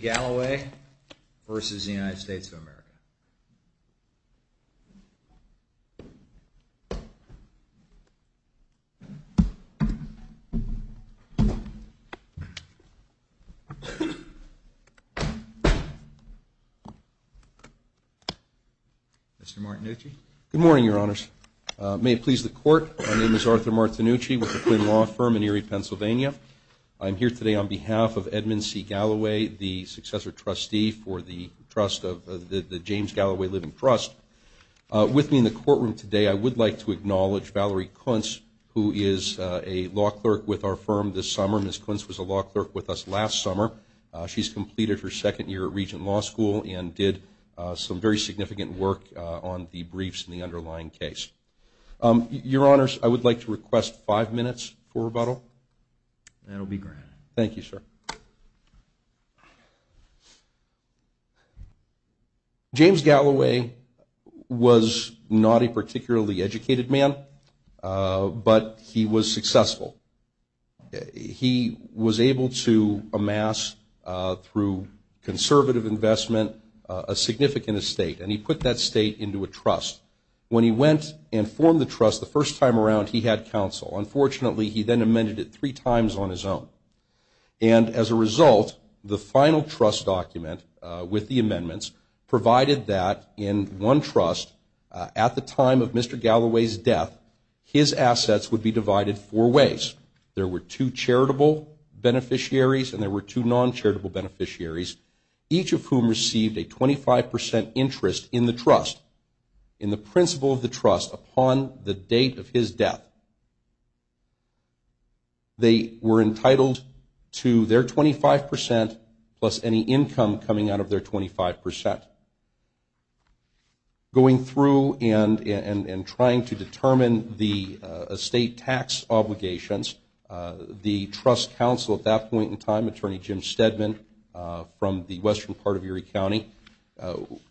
Galloway v. United States Mr. Martinucci Good morning, Your Honors. May it please the Court, my name is Arthur Martinucci with the Quinn Law Firm in Erie, Pennsylvania. I'm here today on behalf of Edmund C. Galloway, the successor trustee for the James Galloway Living Trust. With me in the courtroom today, I would like to acknowledge Valerie Kuntz, who is a law clerk with our firm this summer. Ms. Kuntz was a law clerk with us last summer. She's completed her second year at Regent Law School and did some very significant work on the briefs and the underlying case. Your Honors, I would like to request five minutes for rebuttal. That will be granted. Thank you, sir. James Galloway was not a particularly educated man, but he was successful. He was able to amass, through conservative investment, a significant estate. And he put that estate into a trust. When he went and formed the trust, the first time around he had counsel. Unfortunately, he then amended it three times on his own. And as a result, the final trust document with the amendments provided that in one trust, at the time of Mr. Galloway's death, his assets would be divided four ways. There were two charitable beneficiaries and there were two non-charitable beneficiaries, each of whom received a 25 percent interest in the trust, in the principle of the trust, upon the date of his death. They were entitled to their 25 percent plus any income coming out of their 25 percent. Going through and trying to determine the estate tax obligations, the trust counsel at that point in time, Attorney Jim Stedman, from the western part of Erie County,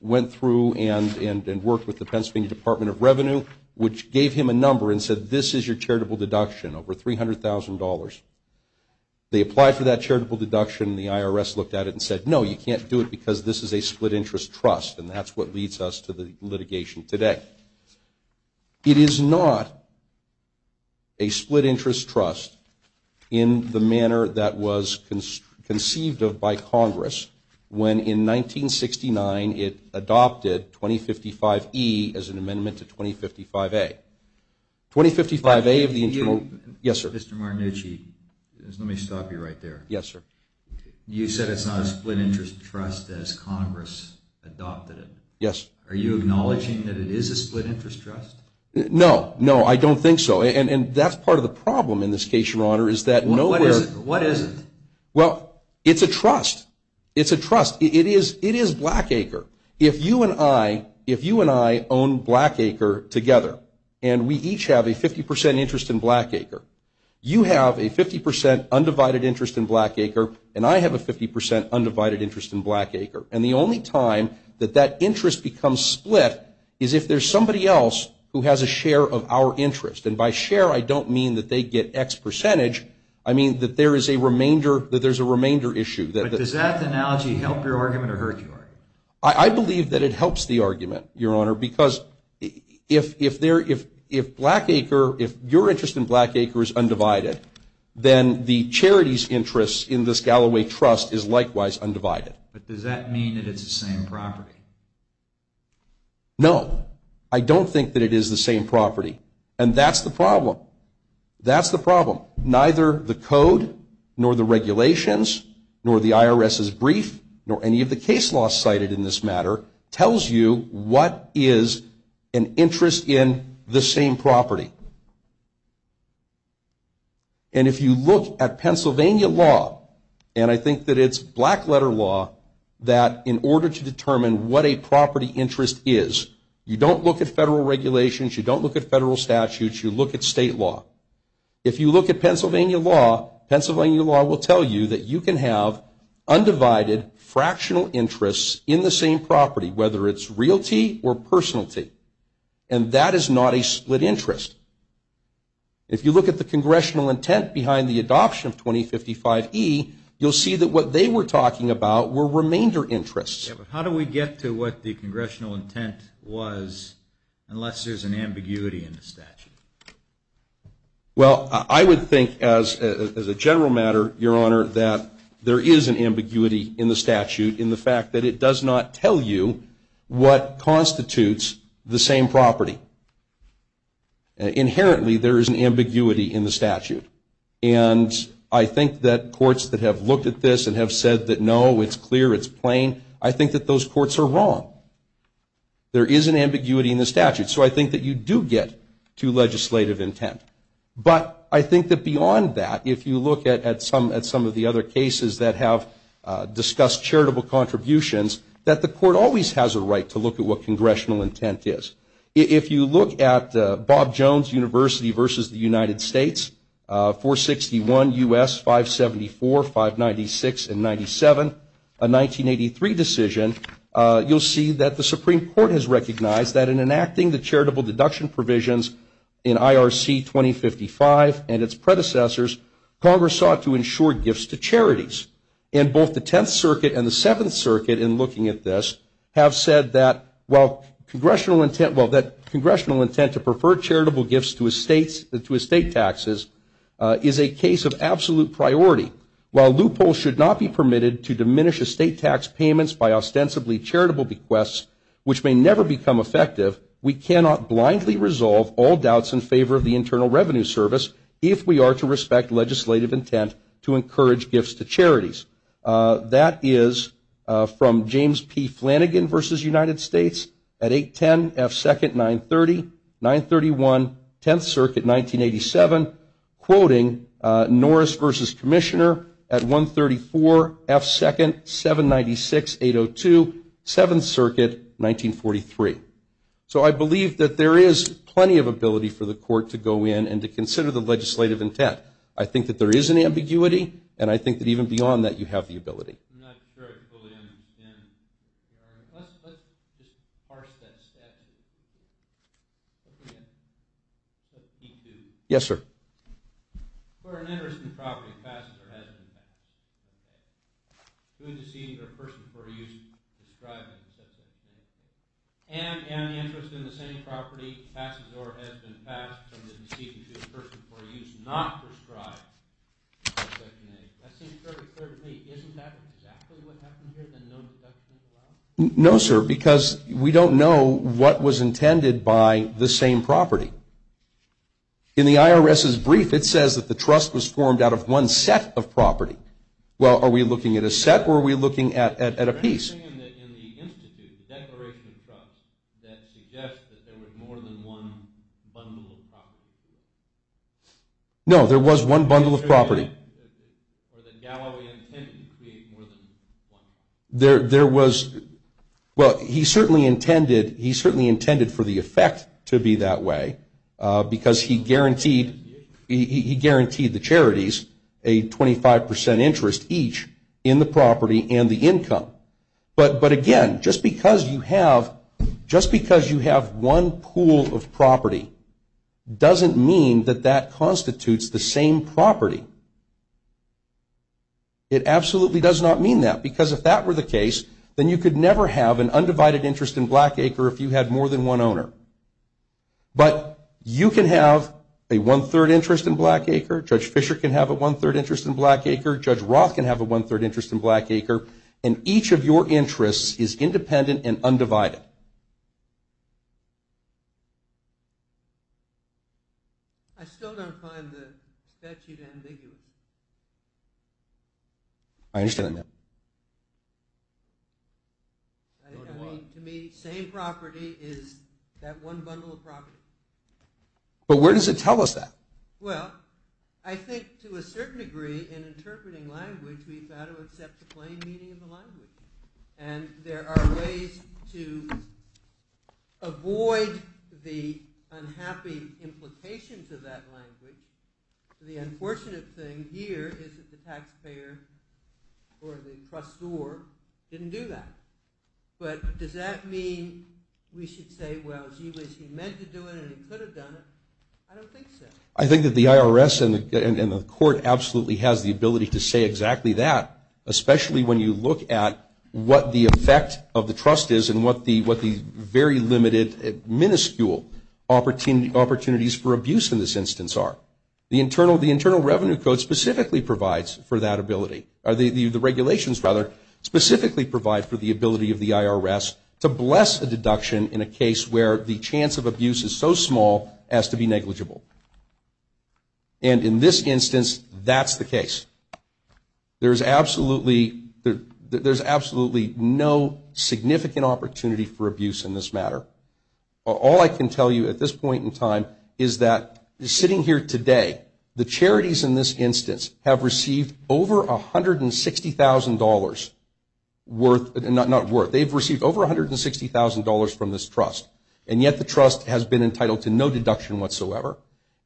went through and worked with the Pennsylvania Department of Revenue, which gave him a number and said, this is your charitable deduction, over $300,000. They applied for that charitable deduction and the IRS looked at it and said, no, you can't do it because this is a split interest trust. And that's what leads us to the litigation today. It is not a split interest trust in the manner that was conceived of by Congress, when in 1969 it adopted 2055-E as an amendment to 2055-A. 2055-A of the internal. Yes, sir. Mr. Marnucci, let me stop you right there. Yes, sir. You said it's not a split interest trust as Congress adopted it. Yes. Are you acknowledging that it is a split interest trust? No. No, I don't think so. And that's part of the problem in this case, Your Honor, is that nowhere. What is it? Well, it's a trust. It's a trust. It is Blackacre. If you and I, if you and I own Blackacre together and we each have a 50 percent interest in Blackacre, you have a 50 percent undivided interest in Blackacre and I have a 50 percent undivided interest in Blackacre. And the only time that that interest becomes split is if there's somebody else who has a share of our interest. And by share, I don't mean that they get X percentage. I mean that there is a remainder, that there's a remainder issue. But does that analogy help your argument or hurt your argument? I believe that it helps the argument, Your Honor, because if Blackacre, if your interest in Blackacre is undivided, then the charity's interest in this Galloway Trust is likewise undivided. But does that mean that it's the same property? No. I don't think that it is the same property. And that's the problem. That's the problem. Neither the code, nor the regulations, nor the IRS's brief, nor any of the case laws cited in this matter, tells you what is an interest in the same property. And if you look at Pennsylvania law, and I think that it's black letter law, that in order to determine what a property interest is, you don't look at federal regulations, you don't look at federal statutes, you look at state law. If you look at Pennsylvania law, Pennsylvania law will tell you that you can have undivided, fractional interests in the same property, whether it's realty or personalty. And that is not a split interest. If you look at the congressional intent behind the adoption of 2055E, you'll see that what they were talking about were remainder interests. Yeah, but how do we get to what the congressional intent was, unless there's an ambiguity in the statute? Well, I would think, as a general matter, Your Honor, that there is an ambiguity in the statute in the fact that it does not tell you what constitutes the same property. Inherently, there is an ambiguity in the statute. And I think that courts that have looked at this and have said that no, it's clear, it's plain, I think that those courts are wrong. There is an ambiguity in the statute. So I think that you do get to legislative intent. But I think that beyond that, if you look at some of the other cases that have discussed charitable contributions, that the court always has a right to look at what congressional intent is. If you look at Bob Jones University versus the United States, 461 U.S. 574, 596, and 97, a 1983 decision, you'll see that the Supreme Court has recognized that in enacting the charitable deduction provisions in IRC 2055 and its predecessors, Congress sought to insure gifts to charities. And both the Tenth Circuit and the Seventh Circuit, in looking at this, have said that while congressional intent, well, that congressional intent to prefer charitable gifts to estate taxes is a case of absolute priority. While loopholes should not be permitted to diminish estate tax payments by ostensibly charitable bequests, which may never become effective, we cannot blindly resolve all doubts in favor of the Internal Revenue Service if we are to respect legislative intent to encourage gifts to charities. That is from James P. Flanagan versus United States at 810 F. 2nd, 930, 931, Tenth Circuit, 1987. Quoting Norris versus Commissioner at 134 F. 2nd, 796, 802, Seventh Circuit, 1943. So I believe that there is plenty of ability for the court to go in and to consider the legislative intent. I think that there is an ambiguity, and I think that even beyond that, you have the ability. I'm not sure I fully understand. Let's just parse that statute. Let's read it, let's keep doing it. Yes, sir. For an interest in the property, passes or has been passed. To a deceased or a person for a use, describing, et cetera, et cetera. And an interest in the same property passes or has been passed to a deceased or a person for a use not prescribed, section A. That seems perfectly clear to me. Isn't that exactly what happened here, the no deductions allowed? No, sir, because we don't know what was intended by the same property. In the IRS's brief, it says that the trust was formed out of one set of property. Well, are we looking at a set, or are we looking at a piece? Anything in the institute, the declaration of trust, that suggests that there was more than one bundle of property? No, there was one bundle of property. Or that Galloway intended to create more than one? There was, well, he certainly intended for the effect to be that way. Because he guaranteed the charities a 25% interest each in the property and the income. But again, just because you have one pool of property doesn't mean that that constitutes the same property. It absolutely does not mean that. Because if that were the case, then you could never have an undivided interest in Black Acre if you had more than one owner. But you can have a one-third interest in Black Acre. Judge Fisher can have a one-third interest in Black Acre. Judge Roth can have a one-third interest in Black Acre. And each of your interests is independent and undivided. I still don't find the statute ambiguous. I understand that. I mean, to me, same property is that one bundle of property. But where does it tell us that? Well, I think to a certain degree, in interpreting language, we've got to accept the plain meaning of the language. And there are ways to avoid the unhappy implications of that language. The unfortunate thing here is that the taxpayer or the trustor didn't do that. But does that mean we should say, well, gee whiz, he meant to do it and he could have done it? I don't think so. I think that the IRS and the court absolutely has the ability to say exactly that, especially when you look at what the effect of the trust is and what the very limited, minuscule opportunities for abuse in this instance are. The Internal Revenue Code specifically provides for that ability. Or the regulations, rather, specifically provide for the ability of the IRS to bless a deduction in a case where the chance of abuse is so negligible. And in this instance, that's the case. There's absolutely no significant opportunity for abuse in this matter. All I can tell you at this point in time is that sitting here today, the charities in this instance have received over $160,000 worth, not worth. They've received over $160,000 from this trust. And yet the trust has been entitled to no deduction whatsoever.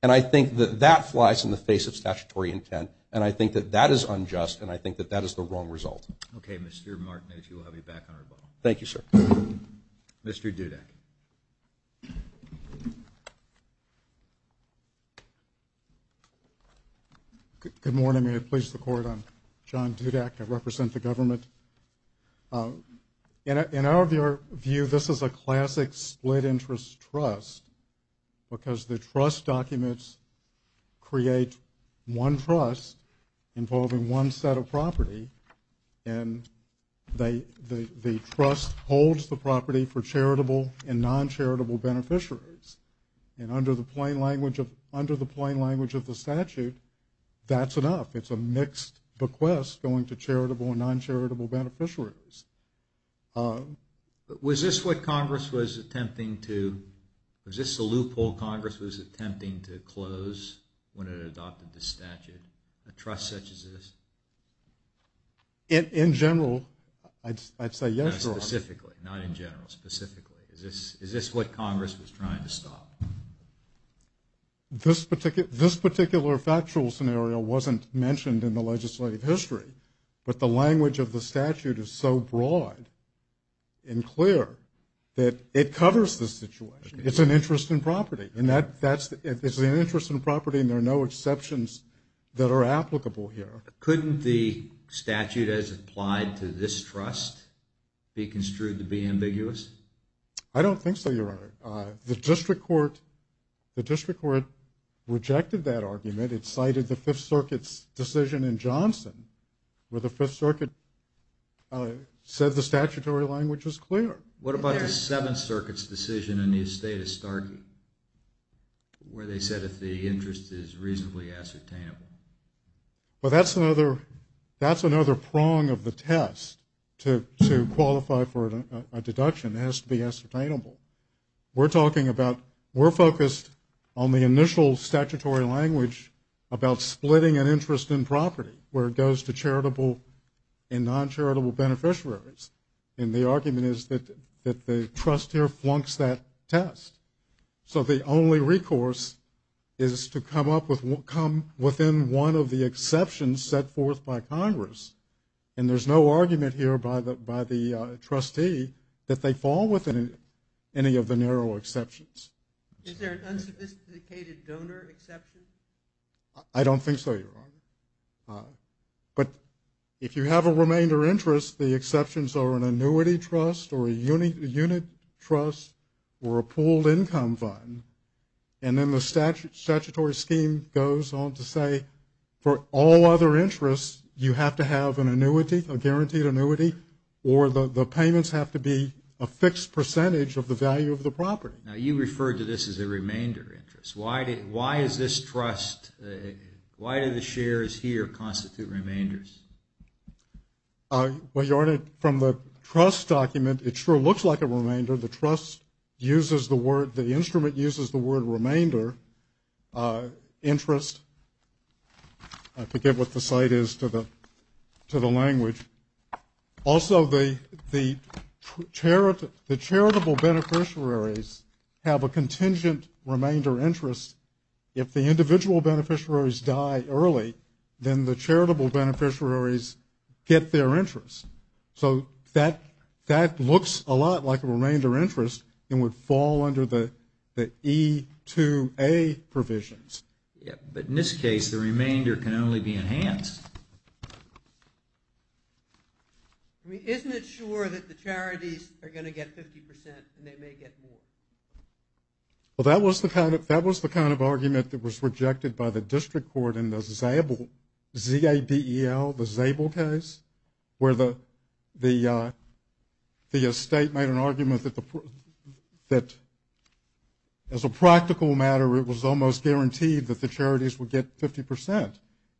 And I think that that flies in the face of statutory intent. And I think that that is unjust, and I think that that is the wrong result. Okay, Mr. Martin, if you will, I'll be back on rebuttal. Thank you, sir. Mr. Dudak. Good morning, I'm going to place the court on John Dudak. I represent the government. In our view, this is a classic split interest trust, because the trust documents create one trust involving one set of property. And the trust holds the property for charitable and non-charitable beneficiaries. And under the plain language of the statute, that's enough. It's a mixed bequest going to charitable and non-charitable beneficiaries. But was this what Congress was attempting to, was this a loophole Congress was attempting to close when it adopted the statute, a trust such as this? In general, I'd say yes, Your Honor. Specifically, not in general, specifically. Is this what Congress was trying to stop? This particular factual scenario wasn't mentioned in the legislative history, but the language of the statute is so broad and clear that it covers the situation. It's an interest in property, and there are no exceptions that are applicable here. Couldn't the statute as applied to this trust be construed to be ambiguous? I don't think so, Your Honor. The district court rejected that argument. It cited the Fifth Circuit's decision in Johnson, where the Fifth Circuit said the statutory language was clear. What about the Seventh Circuit's decision in the estate of Starkey, where they said if the interest is reasonably ascertainable? Well, that's another prong of the test to qualify for a deduction. It has to be ascertainable. We're talking about, we're focused on the initial statutory language about splitting an interest in property, where it goes to charitable and non-charitable beneficiaries. And the argument is that the trust here flunks that test. So the only recourse is to come up with, come within one of the exceptions set forth by Congress. And there's no argument here by the trustee that they fall within any of the narrow exceptions. Is there an unsophisticated donor exception? I don't think so, Your Honor. But if you have a remainder interest, the exceptions are an annuity trust or a unit trust or a pooled income fund. And then the statutory scheme goes on to say, for all other interests, you have to have an annuity, a guaranteed annuity, or the payments have to be a fixed percentage of the value of the property. Now, you referred to this as a remainder interest. Why is this trust, why do the shares here constitute remainders? Well, Your Honor, from the trust document, it sure looks like a remainder. The trust uses the word, the instrument uses the word remainder interest. I forget what the site is to the language. Also, the charitable beneficiaries have a contingent remainder interest. If the individual beneficiaries die early, then the charitable beneficiaries get their interest. So that looks a lot like a remainder interest and would fall under the E2A provisions. But in this case, the remainder can only be enhanced. Isn't it sure that the charities are going to get 50% and they may get more? Well, that was the kind of argument that was rejected by the district court in the Zabel case, where the state made an argument that, as a practical matter, it was almost guaranteed that the charities would get 50%.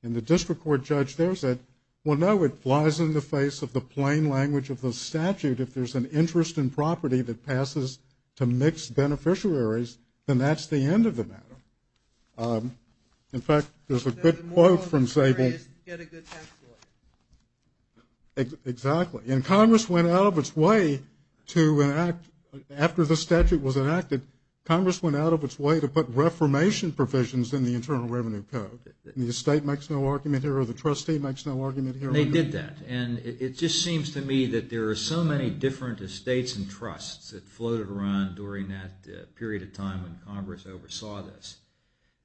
And the district court judge there said, well, no, it flies in the face of the plain language of the statute. If there's an interest in property that passes to mixed beneficiaries, then that's the end of the matter. In fact, there's a good quote from Zabel. Exactly. Congress went out of its way to put reformation provisions in the Internal Revenue Code. The state makes no argument here or the trustee makes no argument here. They did that. And it just seems to me that there are so many different estates and trusts that floated around during that period of time when Congress oversaw this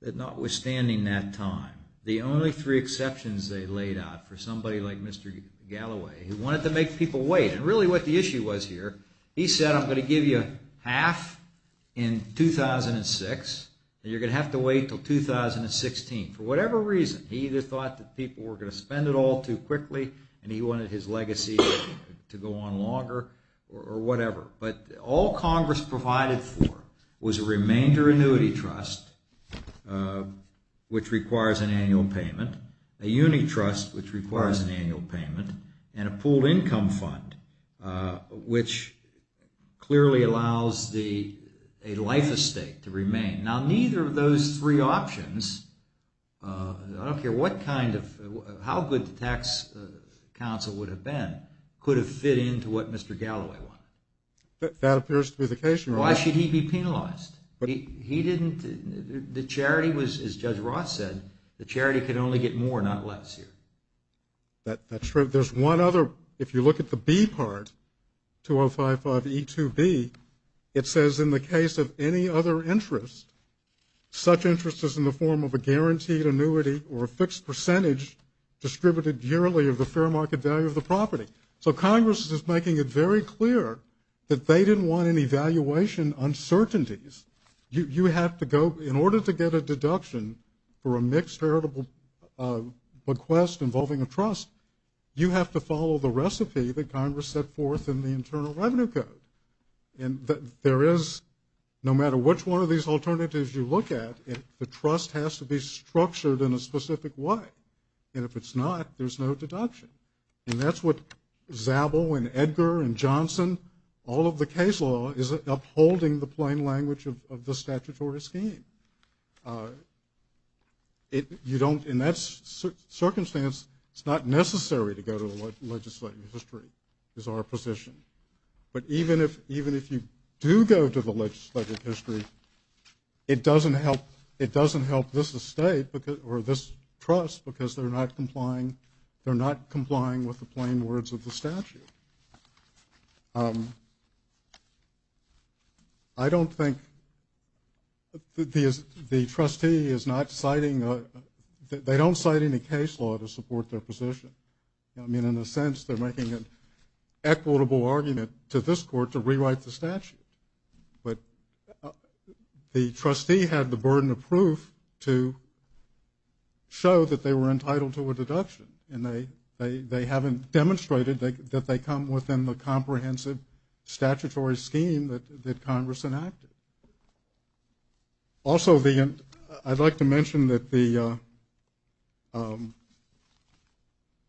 that notwithstanding that time, the only three exceptions they laid out for somebody like Mr. Galloway who wanted to make people wait, and really what the issue was here, he said, I'm going to give you half in 2006, and you're going to have to wait until 2016, for whatever reason. He either thought that people were going to spend it all too quickly and he wanted his legacy to go on longer or whatever. But all Congress provided for was a remainder annuity trust, which requires an annual payment, a unit trust, which requires an annual payment, and a pooled income fund, which clearly allows a life estate to remain. Now, neither of those three options, I don't care what kind of, how good the tax counsel would have been, could have fit into what Mr. Galloway wanted. That appears to be the case. Why should he be penalized? He didn't, the charity was, as Judge Ross said, the charity could only get more, not less here. That's true. There's one other, if you look at the B part, 2055E2B, it says in the case of any other interest, such interest is in the form of a guaranteed annuity or a fixed percentage distributed yearly of the fair market value of the property. So Congress is making it very clear that they didn't want any valuation uncertainties. You have to go, in order to get a deduction for a mixed charitable request involving a trust, you have to follow the recipe that Congress set forth in the Internal Revenue Code. And there is, no matter which one of these alternatives you look at, the trust has to be structured in a specific way. And if it's not, there's no deduction. And that's what Zabel and Edgar and Johnson, all of the case law, is upholding the plain language of the statutory scheme. You don't, in that circumstance, it's not necessary to go to the legislative history is our position. But even if you do go to the legislative history, it doesn't help this estate or this trust because they're not complying, with the plain words of the statute. I don't think the trustee is not citing, they don't cite any case law to support their position. I mean, in a sense, they're making an equitable argument to this court to rewrite the statute. But the trustee had the burden of proof to show that they were entitled to a deduction. And they haven't demonstrated that they come within the comprehensive statutory scheme that Congress enacted. Also, I'd like to mention that the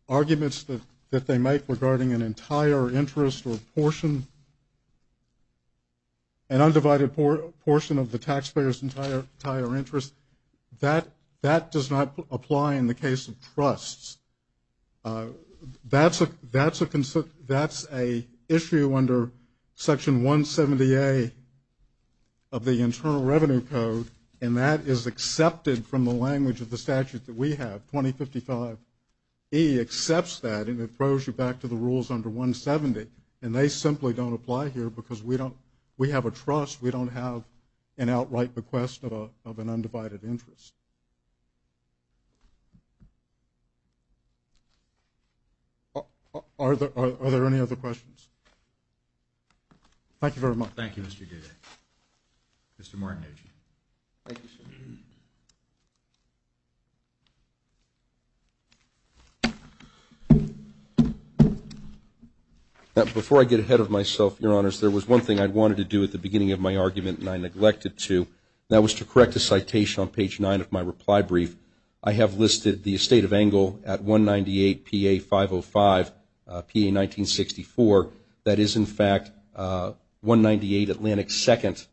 arguments that they make regarding an entire interest or portion, an undivided portion of the taxpayer's entire interest, that does not apply in the case of trusts. That's an issue under Section 170A of the Internal Revenue Code, and that is accepted from the language of the statute that we have, 2055. He accepts that and it throws you back to the rules under 170. And they simply don't apply here because we don't, we have a trust, we don't have an outright bequest of an undivided interest. Are there any other questions? Thank you very much. Thank you, Mr. Goodyear. Thank you, sir. Before I get ahead of myself, Your Honors, there was one thing I wanted to do at the beginning of my argument and I neglected to, and that was to correct a citation on page 9 of my reply brief. I have listed the estate of Engle at 198PA505, PA1964. That is, in fact, 198 Atlantic 2nd,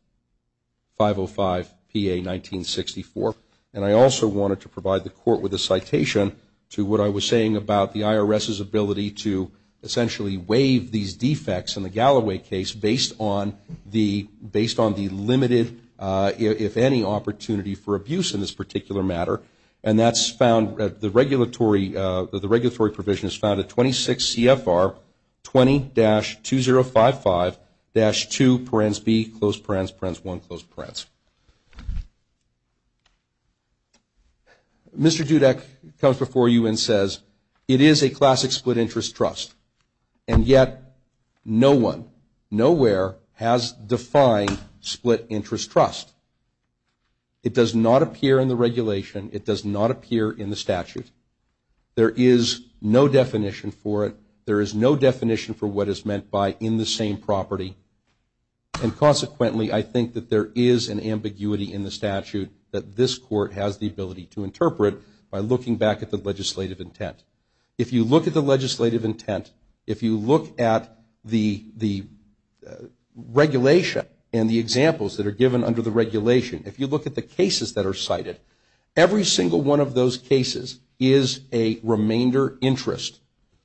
505, PA1964. And I also wanted to provide the Court with a citation to what I was saying about the IRS's ability to essentially waive these defects in the Galloway case based on the limited, if any, opportunity for abuse in this particular matter. And that's found, the regulatory provision is found at 26 CFR 20-2055-2 Mr. Dudek comes before you and says, it is a classic split interest trust, and yet no one, nowhere has defined split interest trust. It does not appear in the regulation. It does not appear in the statute. There is no definition for it. There is no definition for what is meant by in the same property and consequently I think that there is an ambiguity in the statute that this Court has the ability to interpret by looking back at the legislative intent. If you look at the legislative intent, if you look at the regulation and the examples that are given under the regulation, if you look at the cases that are cited, every single one of those cases is a remainder interest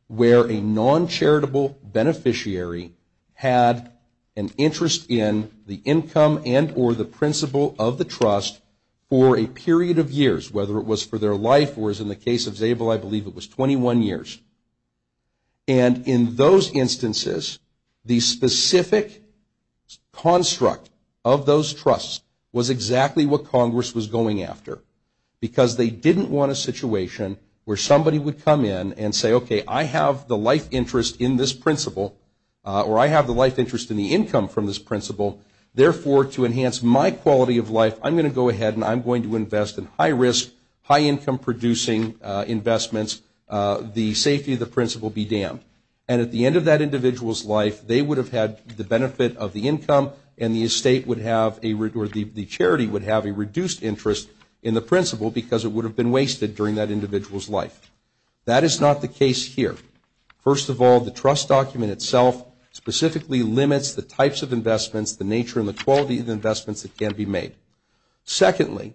where a non-charitable beneficiary had an interest in the income and or the principle of the trust for a period of years, whether it was for their life or, as in the case of Zabel, I believe it was 21 years. And in those instances, the specific construct of those trusts was exactly what Congress was going after because they didn't want a situation where somebody would come in and say, okay, I have the life interest in this principle or I have the life interest in the income from this principle. Therefore, to enhance my quality of life, I'm going to go ahead and I'm going to invest in high risk, high income producing investments. The safety of the principle be damned. And at the end of that individual's life, they would have had the benefit of the income and the estate would have or the charity would have a reduced interest in the principle because it would have been wasted during that individual's life. That is not the case here. First of all, the trust document itself specifically limits the types of investments, the nature and the quality of the investments that can be made. Secondly,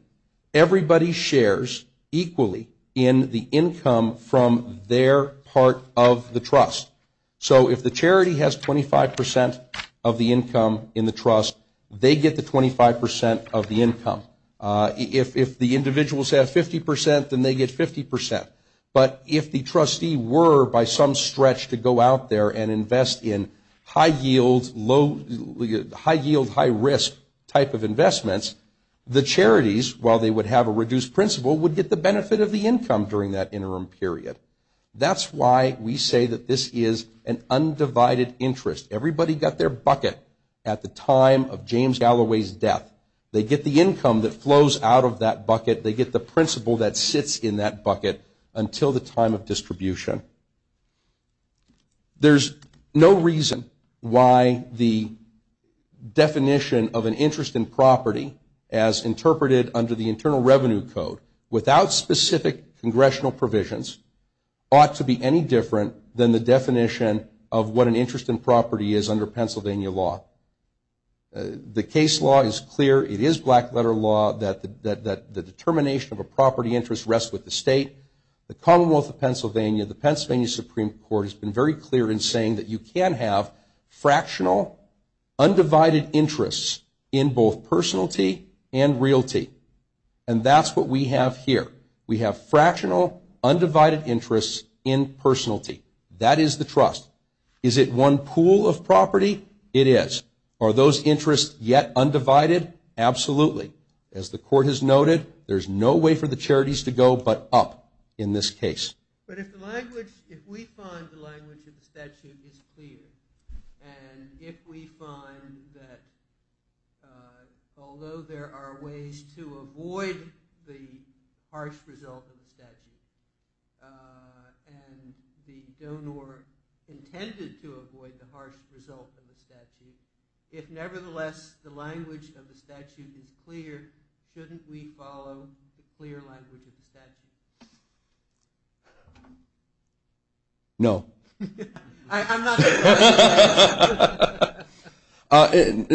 everybody shares equally in the income from their part of the trust. So if the charity has 25% of the income in the trust, they get the 25% of the income. If the individuals have 50%, then they get 50%. But if the trustee were by some stretch to go out there and invest in high yield, high risk type of investments, the charities, while they would have a reduced principle, would get the benefit of the income during that interim period. That's why we say that this is an undivided interest. Everybody got their bucket at the time of James Galloway's death. They get the income that flows out of that bucket. They get the principle that sits in that bucket until the time of distribution. There's no reason why the definition of an interest in property as interpreted under the Internal Revenue Code without specific congressional provisions ought to be any different than the definition of what an interest in property is under Pennsylvania law. The case law is clear. It is black letter law that the determination of a property interest rests with the state. The Commonwealth of Pennsylvania, the Pennsylvania Supreme Court, has been very clear in saying that you can have fractional undivided interests in both personality and realty. And that's what we have here. We have fractional undivided interests in personality. That is the trust. Is it one pool of property? It is. Are those interests yet undivided? Absolutely. As the court has noted, there's no way for the charities to go but up in this case. But if the language, if we find the language of the statute is clear, and if we find that although there are ways to avoid the harsh result of the statute, and the donor intended to avoid the harsh result of the statute, if nevertheless the language of the statute is clear, shouldn't we follow the clear language of the statute? No. I'm not saying that.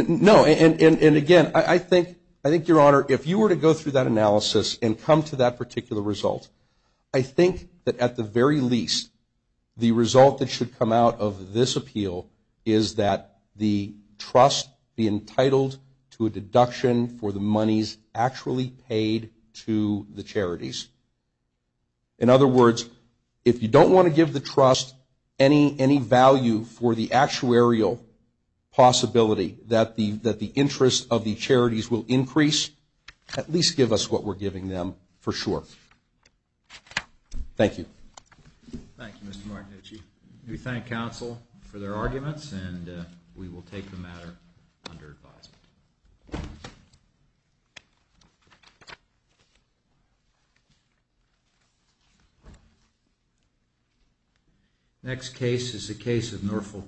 No. And, again, I think, Your Honor, if you were to go through that analysis and come to that particular result, I think that at the very least the result that should come out of this appeal is that the trust be entitled to a deduction for the monies actually paid to the charities. In other words, if you don't want to give the trust any value for the actuarial possibility that the interest of the charities will increase, at least give us what we're giving them for sure. Thank you. Thank you, Mr. Martinucci. We thank counsel for their arguments and we will take the matter under advisement. Next case is a case of Norfolk County.